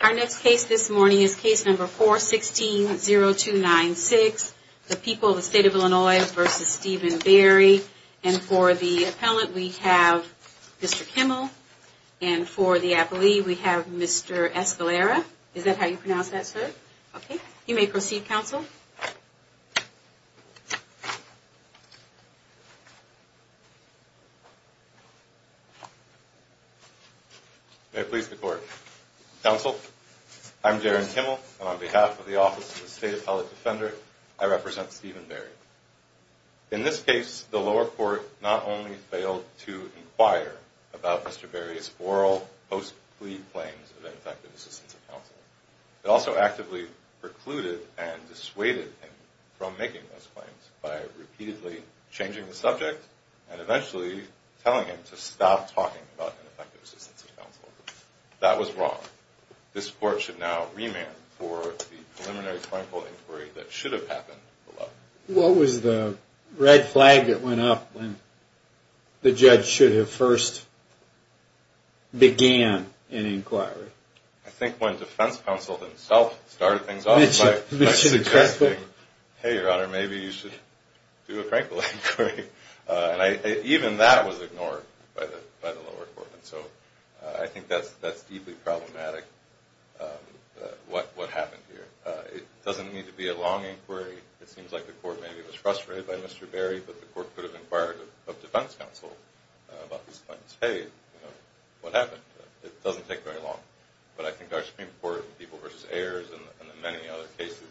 Our next case this morning is case number 416-0296, The People of the State of Illinois v. Stephen Berry. And for the appellant, we have Mr. Kimmel, and for the appellee, we have Mr. Escalera. Is that how you pronounce that, sir? Okay. You may proceed, counsel. May it please the court. Counsel, I'm Jaron Kimmel, and on behalf of the Office of the State Appellate Defender, I represent Stephen Berry. In this case, the lower court not only failed to inquire about Mr. Berry's oral, post-plea claims of ineffective assistance of counsel, it also actively precluded and dissuaded Mr. Kimmel from any further inquiry. It also precluded him from making those claims by repeatedly changing the subject and eventually telling him to stop talking about ineffective assistance of counsel. That was wrong. This court should now remand for the preliminary claimful inquiry that should have happened below. What was the red flag that went up when the judge should have first began an inquiry? I think when defense counsel himself started things off by suggesting, hey, your honor, maybe you should do a frankful inquiry. And even that was ignored by the lower court. And so I think that's deeply problematic, what happened here. It doesn't need to be a long inquiry. It seems like the court maybe was frustrated by Mr. Berry, but the court could have inquired of defense counsel about his claims. Hey, what happened? It doesn't take very long. But I think our Supreme Court and People v. Ayers and the many other cases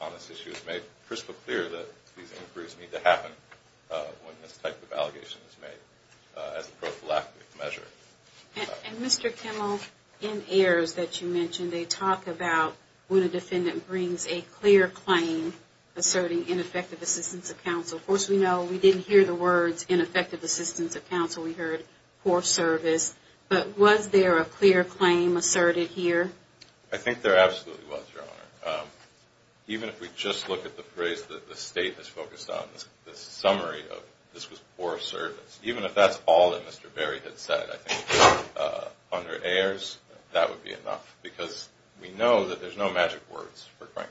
on this issue have made crystal clear that these inquiries need to happen when this type of allegation is made as a prophylactic measure. And Mr. Kimmel, in Ayers that you mentioned, they talk about when a defendant brings a clear claim asserting ineffective assistance of counsel. Of course, we know we didn't hear the words ineffective assistance of counsel. We heard poor service. But was there a clear claim asserted here? I think there absolutely was, your honor. Even if we just look at the phrase that the state has focused on, the summary of this was poor service. Even if that's all that Mr. Berry had said, I think under Ayers that would be enough. Because we know that there's no magic words for Frankl.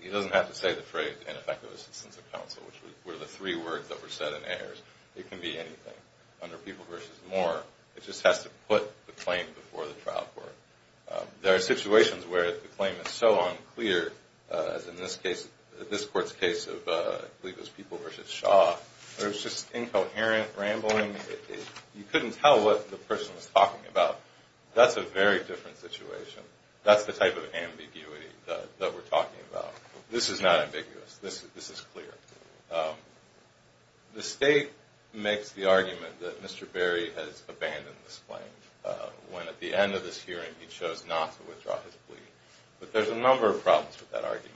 He doesn't have to say the phrase ineffective assistance of counsel, which were the three words that were said in Ayers. It can be anything. Under People v. Moore, it just has to put the claim before the trial court. There are situations where the claim is so unclear, as in this court's case of People v. Shaw, where it's just incoherent rambling. You couldn't tell what the person was talking about. That's a very different situation. That's the type of ambiguity that we're talking about. This is not ambiguous. This is clear. The state makes the argument that Mr. Berry has abandoned this claim, when at the end of this hearing he chose not to withdraw his plea. But there's a number of problems with that argument.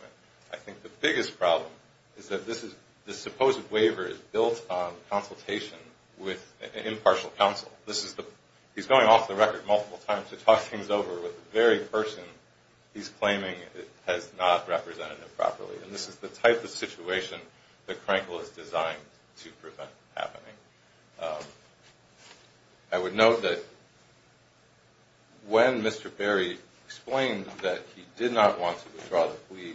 I think the biggest problem is that this supposed waiver is built on consultation with impartial counsel. He's going off the record multiple times to talk things over with the very person he's claiming has not represented him properly. And this is the type of situation that Frankl has designed to prevent happening. I would note that when Mr. Berry explained that he did not want to withdraw the plea,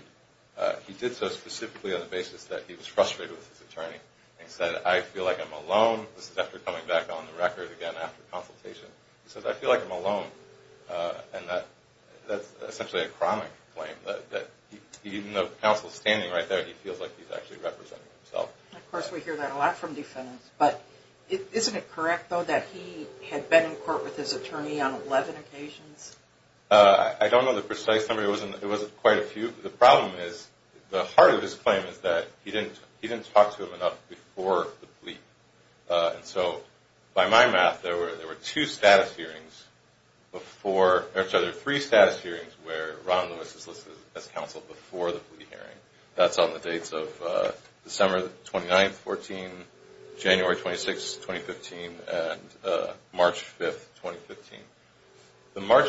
he did so specifically on the basis that he was frustrated with his attorney. He said, I feel like I'm alone. This is after coming back on the record again after consultation. He says, I feel like I'm alone. And that's essentially a chronic claim. Even though counsel is standing right there, he feels like he's actually representing himself. Of course, we hear that a lot from defendants. But isn't it correct, though, that he had been in court with his attorney on 11 occasions? I don't know the precise number. It wasn't quite a few. The problem is, the heart of his claim is that he didn't talk to him enough before the plea. His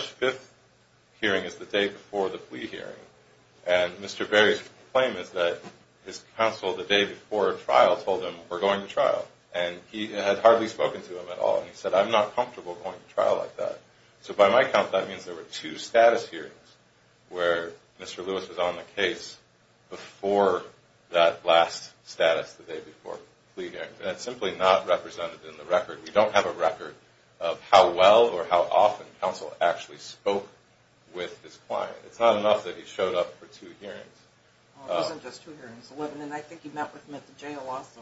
first, fifth hearing is the day before the plea hearing. And Mr. Berry's claim is that his counsel, the day before trial, told him, we're going to trial. And he had hardly spoken to him at all. And he said, I'm not comfortable going to trial like that. So by my count, that means there were two status hearings where Mr. Lewis was on the case before that last status the day before the plea hearing. And that's simply not represented in the record. We don't have a record of how well or how often counsel actually spoke with his client. It's not enough that he showed up for two hearings. It wasn't just two hearings, 11. And I think he met with him at the jail also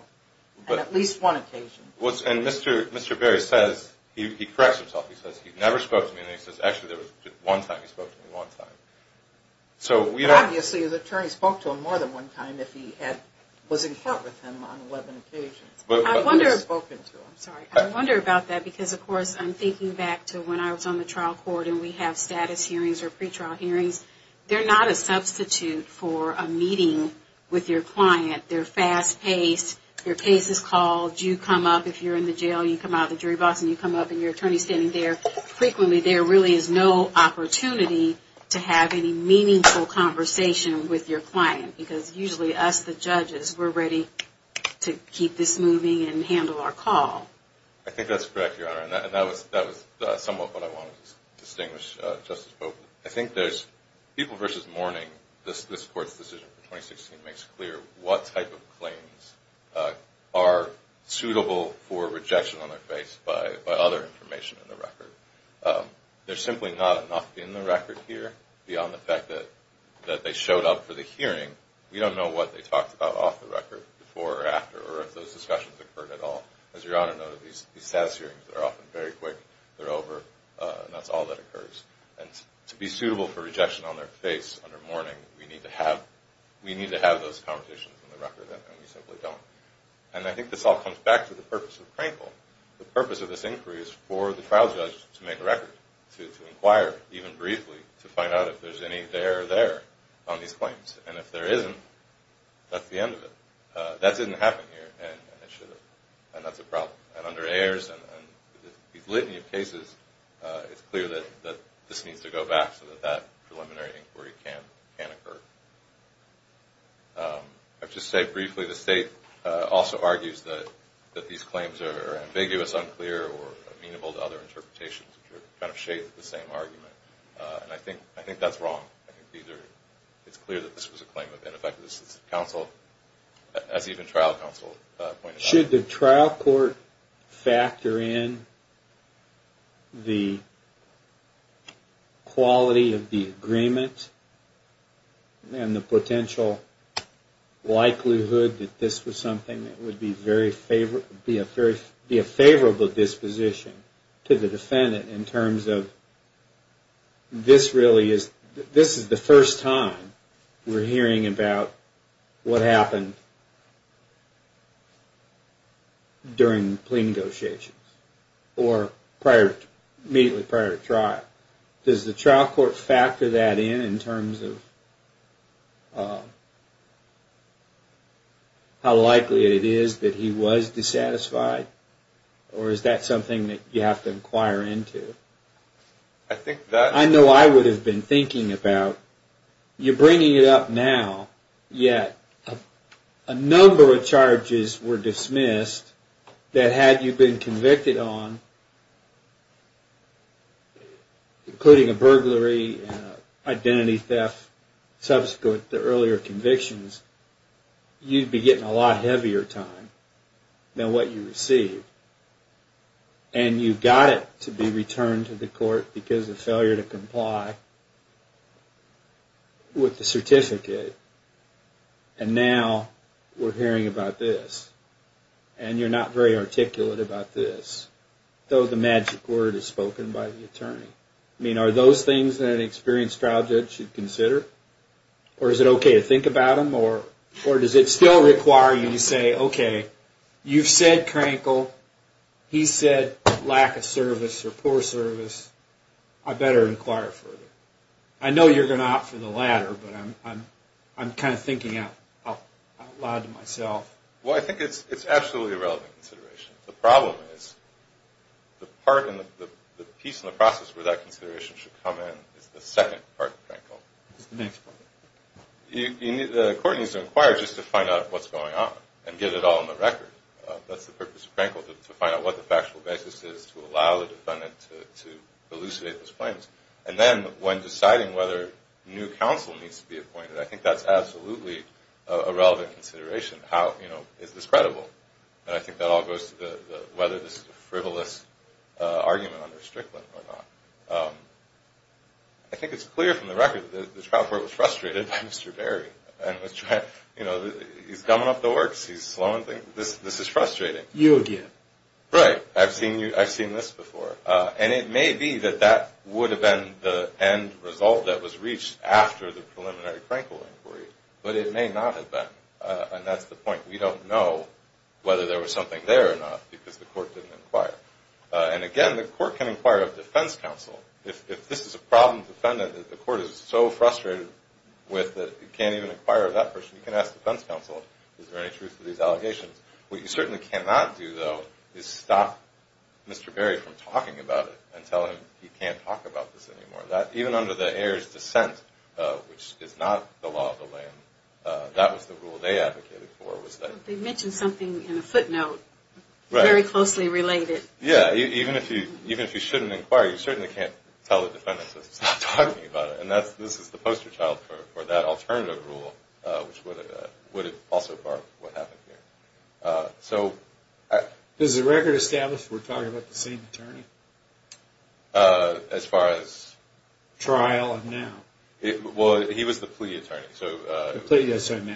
on at least one occasion. And Mr. Berry says, he corrects himself, he says, he never spoke to me. And he says, actually, there was one time he spoke to me, one time. Obviously, his attorney spoke to him more than one time if he was in court with him on 11 occasions. I wonder about that because, of course, I'm thinking back to when I was on the trial court and we have status hearings or pre-trial hearings. They're not a substitute for a meeting with your client. They're fast-paced. Your case is called. You come up, if you're in the jail, you come out of the jury box and you come up and your attorney's standing there. Frequently, there really is no opportunity to have any meaningful conversation with your client because usually us, the judges, we're ready to keep this moving forward. I think that's correct, Your Honor. And that was somewhat what I wanted to distinguish, Justice Bowman. I think there's people versus mourning. This court's decision for 2016 makes clear what type of claims are suitable for rejection on their face by other information in the record. There's simply not enough in the record here beyond the fact that they showed up for the hearing. We don't know what they talked about off the record before or after or if those discussions occurred at all. As Your Honor noted, these status hearings are often very quick. They're over and that's all that occurs. And to be suitable for rejection on their face under mourning, we need to have those conversations in the record and we simply don't. And I think this all comes back to the purpose of Crankle. The purpose of this inquiry is for the trial judge to make a record, to inquire even briefly to find out if there's any there or there on these claims. And if there isn't, that's the end of it. That didn't happen here and it should have. And that's a problem. And under Ayers and these litany of cases, it's clear that this needs to go back so that that preliminary inquiry can occur. I'll just say briefly, the State also argues that these claims are ambiguous, unclear, or amenable to other interpretations which are kind of shades of the same argument. And I think that's wrong. I think it's clear that this was a claim of ineffective assistance to counsel, as even trial counsel pointed out. Should the trial court factor in the quality of the agreement and the potential likelihood that this was something that would be a favorable disposition to the defendant in terms of this really is, this is the first time we're hearing about what happened. During plea negotiations. Or prior, immediately prior to trial. Does the trial court factor that in, in terms of how likely it is that he was dissatisfied? Or is that something that you have to inquire into? I know I would have been thinking about, you're bringing it up now, yet a number of charges were dismissed that had you been convicted on, including a burglary, identity theft, subsequent to earlier convictions, you'd be getting a lot heavier time than what you received. And you've got it to be returned to the court because of failure to comply with the certificate. And now we're hearing about this. And you're not very articulate about this. Though the magic word is spoken by the attorney. I mean, are those things that an experienced trial judge should consider? Or is it okay to think about them? Or does it still require you to say, okay, you've said crankle. He said lack of service or poor service. I better inquire further. I know you're going to opt for the latter, but I'm kind of thinking out loud to myself. Well, I think it's absolutely a relevant consideration. The problem is the part and the piece in the process where that consideration should come in is the second part of crankle. What's the next part? And I think that all goes to whether this is a frivolous argument under Strickland or not. I think it's clear from the record that the trial court was frustrated by Mr. Berry. He's dumbing up the works. He's slowing things. This is frustrating. You again. Right. I've seen this before. And it may be that that would have been the end result that was reached after the preliminary crankle inquiry. But it may not have been. And that's the point. We don't know whether there was something there or not because the court didn't inquire. And again, the court can inquire of defense counsel. If this is a problem defendant that the court is so frustrated with that it can't even inquire of that person, you can ask defense counsel, is there any truth to these allegations? What you certainly cannot do, though, is stop Mr. Berry from talking about it and tell him he can't talk about this anymore. Even under the heirs' dissent, which is not the law of the land, that was the rule they advocated for. They mentioned something in a footnote very closely related. Yeah. Even if you shouldn't inquire, you certainly can't tell the defendant to stop talking about it. And this is the poster child for that alternative rule, which would have also barred what happened here. Is the record established we're talking about the same attorney? As far as? Trial and now. Well, he was the plea attorney.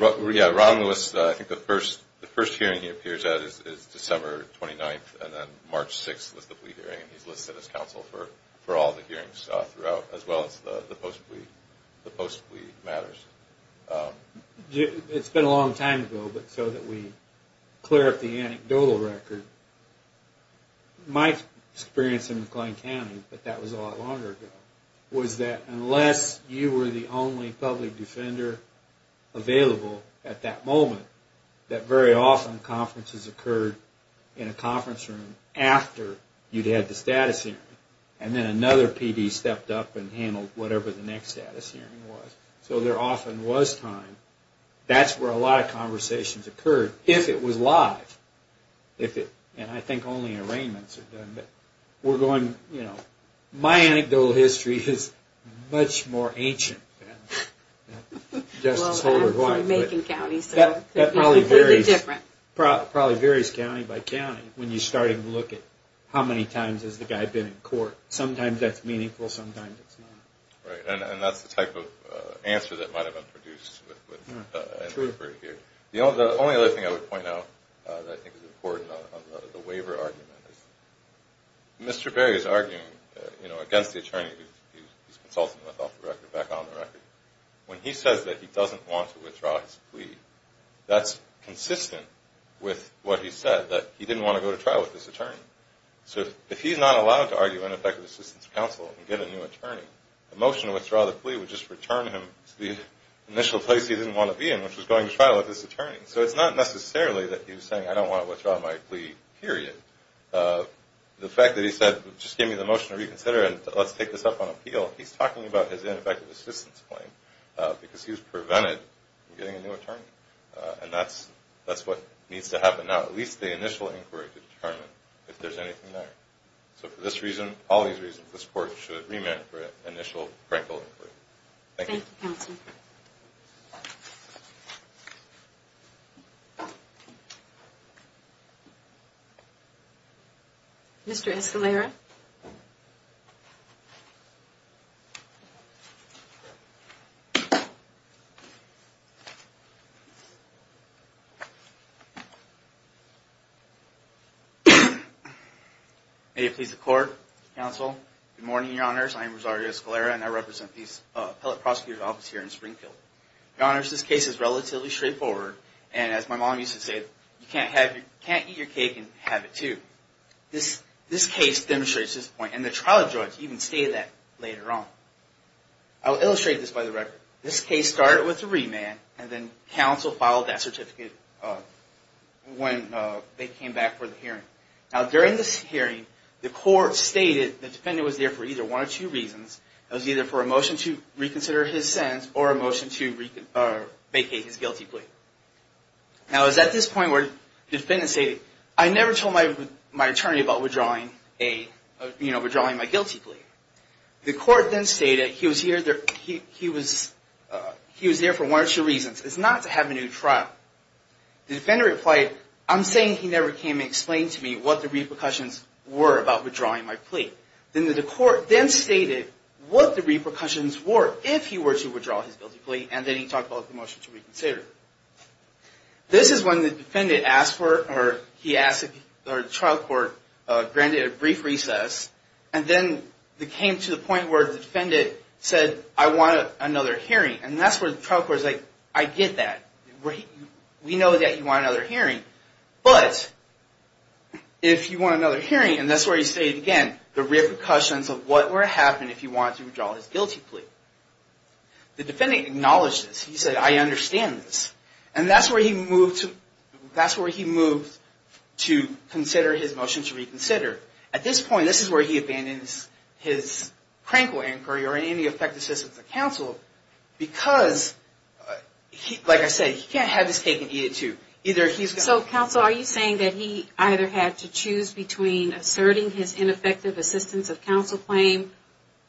Ron Lewis, I think the first hearing he appears at is December 29th and then March 6th was the plea hearing. He's listed as counsel for all the hearings throughout, as well as the post-plea matters. It's been a long time ago, but so that we clear up the anecdotal record, my experience in McLean County, but that was a lot longer ago, was that unless you were the only public defender available at that moment, that very often conferences occurred in a conference room after you'd had the status hearing. And then another PD stepped up and handled whatever the next status hearing was. So there often was time. That's where a lot of conversations occurred, if it was live. And I think only arraignments are done. But we're going, you know, my anecdotal history is much more ancient than Justice Holder's. Well, I'm from Macon County. That probably varies county by county when you're starting to look at how many times has the guy been in court. Sometimes that's meaningful, sometimes it's not. Right. And that's the type of answer that might have been produced. True. The only other thing I would point out that I think is important on the waiver argument is Mr. Berry is arguing, you know, against the attorney he's consulting with off the record, back on the record. When he says that he doesn't want to withdraw his plea, that's consistent with what he said, that he didn't want to go to trial with this attorney. So if he's not allowed to argue ineffective assistance counsel and get a new attorney, the motion to withdraw the plea would just return him to the initial place he didn't want to be in, which was going to trial with this attorney. So it's not necessarily that he was saying, I don't want to withdraw my plea, period. The fact that he said, just give me the motion to reconsider and let's take this up on appeal, he's talking about his ineffective assistance claim because he was prevented from getting a new attorney. And that's what needs to happen now, at least the initial inquiry to determine if there's anything there. So for this reason, all these reasons, this court should remand for initial, practical inquiry. Thank you. Thank you, counsel. Mr. Escalera. May it please the court, counsel. Good morning, your honors. I am Rosario Escalera and I represent the appellate prosecutor's office here in Springfield. Your honors, this case is relatively straightforward and as my mom used to say, you can't eat your cake and have it too. This case demonstrates this point and the trial judge even stated that later on. I'll illustrate this by the record. This case started with a remand and then counsel filed that certificate when they came back for the hearing. Now during this hearing, the court stated the defendant was there for either one or two reasons. It was either for a motion to reconsider his sins or a motion to vacate his guilty plea. Now it was at this point where the defendant stated, I never told my attorney about withdrawing my guilty plea. The court then stated he was there for one or two reasons. It's not to have a new trial. The defendant replied, I'm saying he never came and explained to me what the repercussions were about withdrawing my plea. Then the court then stated what the repercussions were if he were to withdraw his guilty plea and then he talked about the motion to reconsider. This is when the defendant asked for, or he asked, or the trial court granted a brief recess and then it came to the point where the defendant said, I want another hearing. And that's where the trial court was like, I get that. We know that you want another hearing. But if you want another hearing, and that's where he stated again, the repercussions of what would happen if he wanted to withdraw his guilty plea. The defendant acknowledged this. He said, I understand this. And that's where he moved to consider his motion to reconsider. At this point, this is where he abandons his crankle inquiry or any effective assistance of counsel because, like I said, he can't have his cake and eat it too. So counsel, are you saying that he either had to choose between asserting his ineffective assistance of counsel claim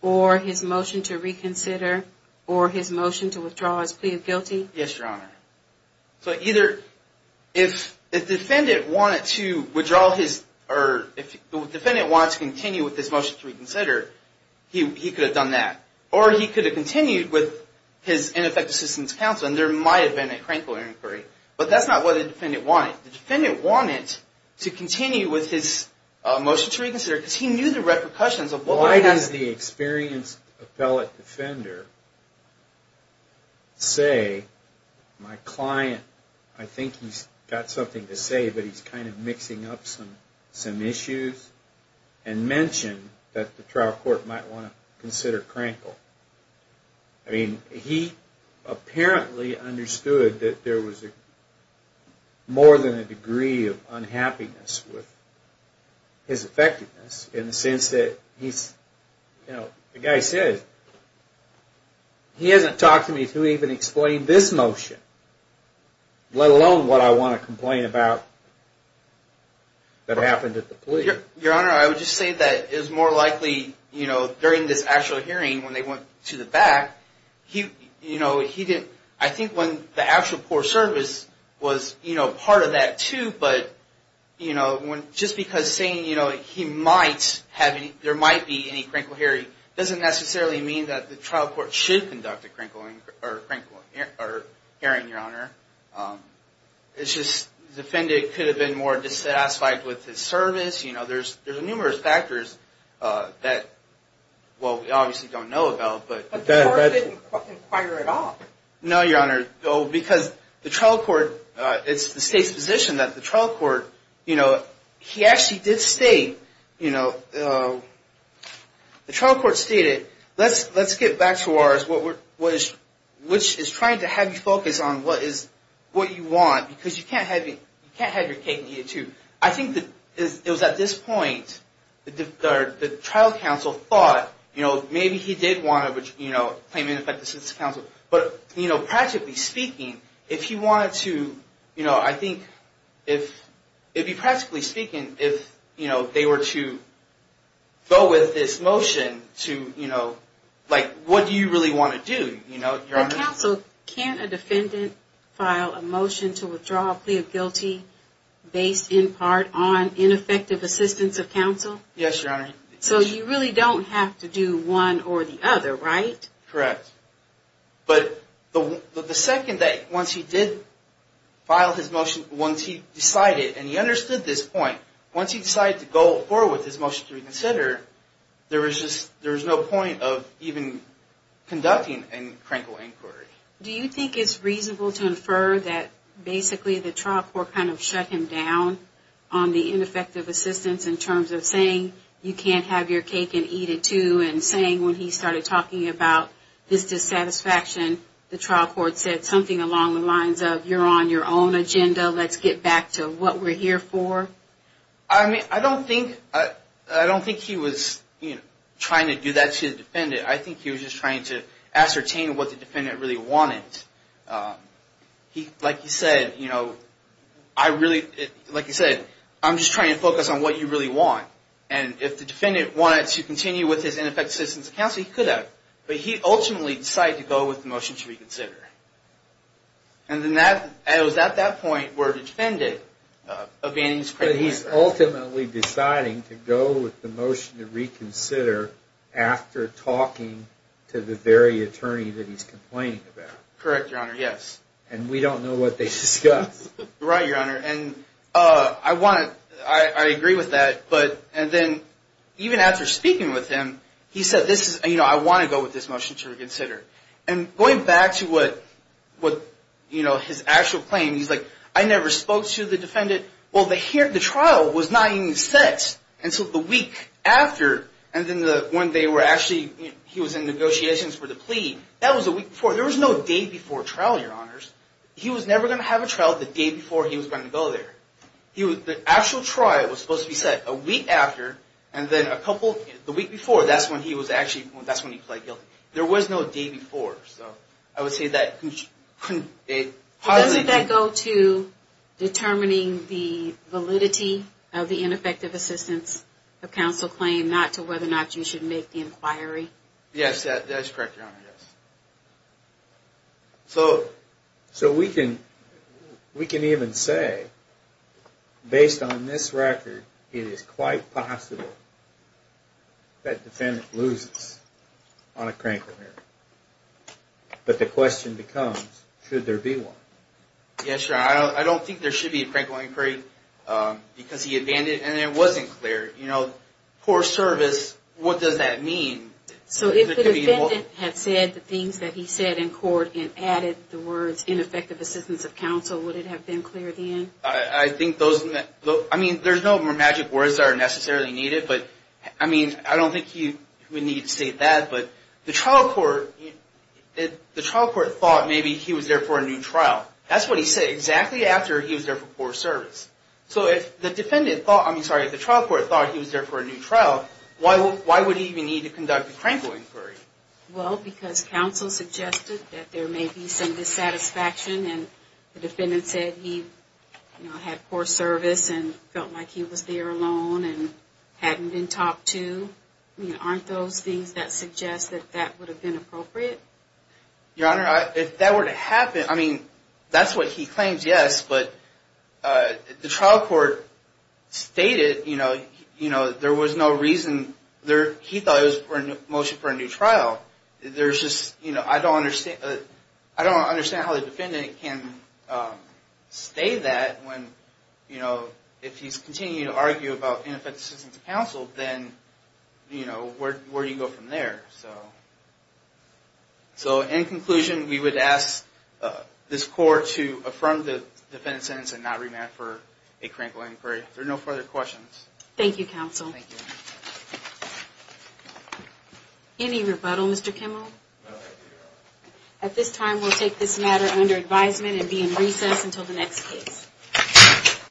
or his motion to reconsider or his motion to withdraw his plea of guilty? Yes, Your Honor. So either if the defendant wanted to withdraw his, or if the defendant wanted to continue with his motion to reconsider, he could have done that. Or he could have continued with his ineffective assistance of counsel and there might have been a crankle inquiry. But that's not what the defendant wanted. The defendant wanted to continue with his motion to reconsider because he knew the repercussions of what would happen. Does the experienced appellate defender say, my client, I think he's got something to say, but he's kind of mixing up some issues, and mention that the trial court might want to consider crankle? I mean, he apparently understood that there was more than a degree of unhappiness with his effectiveness in the sense that he's, you know, the guy says, he hasn't talked to me to even explain this motion, let alone what I want to complain about that happened at the plea. Your Honor, I would just say that it was more likely, you know, during this actual hearing when they went to the back, he, you know, he didn't, I think when the actual court service was, you know, part of that too, but, you know, just because saying, you know, he might have any, there might be any crankle hearing doesn't necessarily mean that the trial court should conduct a crankle hearing, Your Honor. It's just the defendant could have been more dissatisfied with his service, you know, there's numerous factors that, well, we obviously don't know about, but. But the court didn't inquire at all. No, Your Honor, because the trial court, it's the state's position that the trial court, you know, he actually did state, you know, the trial court stated, let's get back to ours, which is trying to have you focus on what you want, because you can't have your cake and eat it too. I think that it was at this point, the trial counsel thought, you know, maybe he did want to, you know, claim ineffective assistance to counsel, but, you know, practically speaking, if he wanted to, you know, I think if, it'd be practically speaking, if, you know, they were to go with this motion to, you know, like, what do you really want to do, you know, Your Honor? Counsel, can't a defendant file a motion to withdraw a plea of guilty based in part on ineffective assistance of counsel? Yes, Your Honor. So you really don't have to do one or the other, right? Correct. But the second that, once he did file his motion, once he decided, and he understood this point, once he decided to go forward with his motion to reconsider, there was just, there was no point of even conducting a crankle inquiry. Do you think it's reasonable to infer that, basically, the trial court kind of shut him down on the ineffective assistance in terms of saying, you can't have your cake and eat it too, and saying when he started talking about this dissatisfaction, the trial court said something along the lines of, you're on your own agenda, let's get back to what we're here for? I mean, I don't think, I don't think he was, you know, trying to do that to the defendant. I think he was just trying to ascertain what the defendant really wanted. He, like he said, you know, I really, like he said, I'm just trying to focus on what you really want. And if the defendant wanted to continue with his ineffective assistance of counsel, he could have. But he ultimately decided to go with the motion to reconsider. And then that, it was at that point where the defendant abandoned his claim. But he's ultimately deciding to go with the motion to reconsider after talking to the very attorney that he's complaining about. Correct, Your Honor, yes. And we don't know what they discussed. Right, Your Honor, and I want to, I agree with that, but, and then even after speaking with him, he said this is, you know, I want to go with this motion to reconsider. And going back to what, you know, his actual claim, he's like, I never spoke to the defendant. Well, the trial was not even set until the week after. And then when they were actually, he was in negotiations for the plea, that was a week before. There was no day before trial, Your Honors. He was never going to have a trial the day before he was going to go there. The actual trial was supposed to be set a week after. And then a couple, the week before, that's when he was actually, that's when he pled guilty. There was no day before, so. I would say that, it hardly. Doesn't that go to determining the validity of the ineffective assistance of counsel claim, not to whether or not you should make the inquiry? Yes, that is correct, Your Honor, yes. So, we can even say, based on this record, it is quite possible that defendant loses on a crank inquiry. But the question becomes, should there be one? Yes, Your Honor, I don't think there should be a crank inquiry, because he abandoned, and it wasn't clear, you know, poor service, what does that mean? So, if the defendant had said the things that he said in court, and added the words, ineffective assistance of counsel, would it have been clear then? I think those, I mean, there's no more magic words that are necessarily needed, but I mean, I don't think we need to state that, but the trial court, the trial court thought maybe he was there for a new trial. That's what he said, exactly after he was there for poor service. So, if the defendant thought, I mean, sorry, the trial court thought he was there for a new trial, why would he even need to conduct a crank inquiry? Well, because counsel suggested that there may be some dissatisfaction, and the defendant said he, you know, had poor service, and felt like he was there alone, and hadn't been talked to. I mean, aren't those things that suggest that that would have been appropriate? Your Honor, if that were to happen, I mean, that's what he claims, yes, but the trial court stated, you know, there was no reason, he thought it was a motion for a new trial. There's just, you know, I don't understand how the defendant can say that when, you know, if he's continuing to argue about ineffective assistance of counsel, then, you know, where do you go from there? So, in conclusion, we would ask this court to affirm the defendant's sentence and not remand for a crank inquiry. If there are no further questions. Thank you, counsel. Thank you. Any rebuttal, Mr. Kimmel? No, I do not. At this time, we'll take this matter under advisement and be in recess until the next case.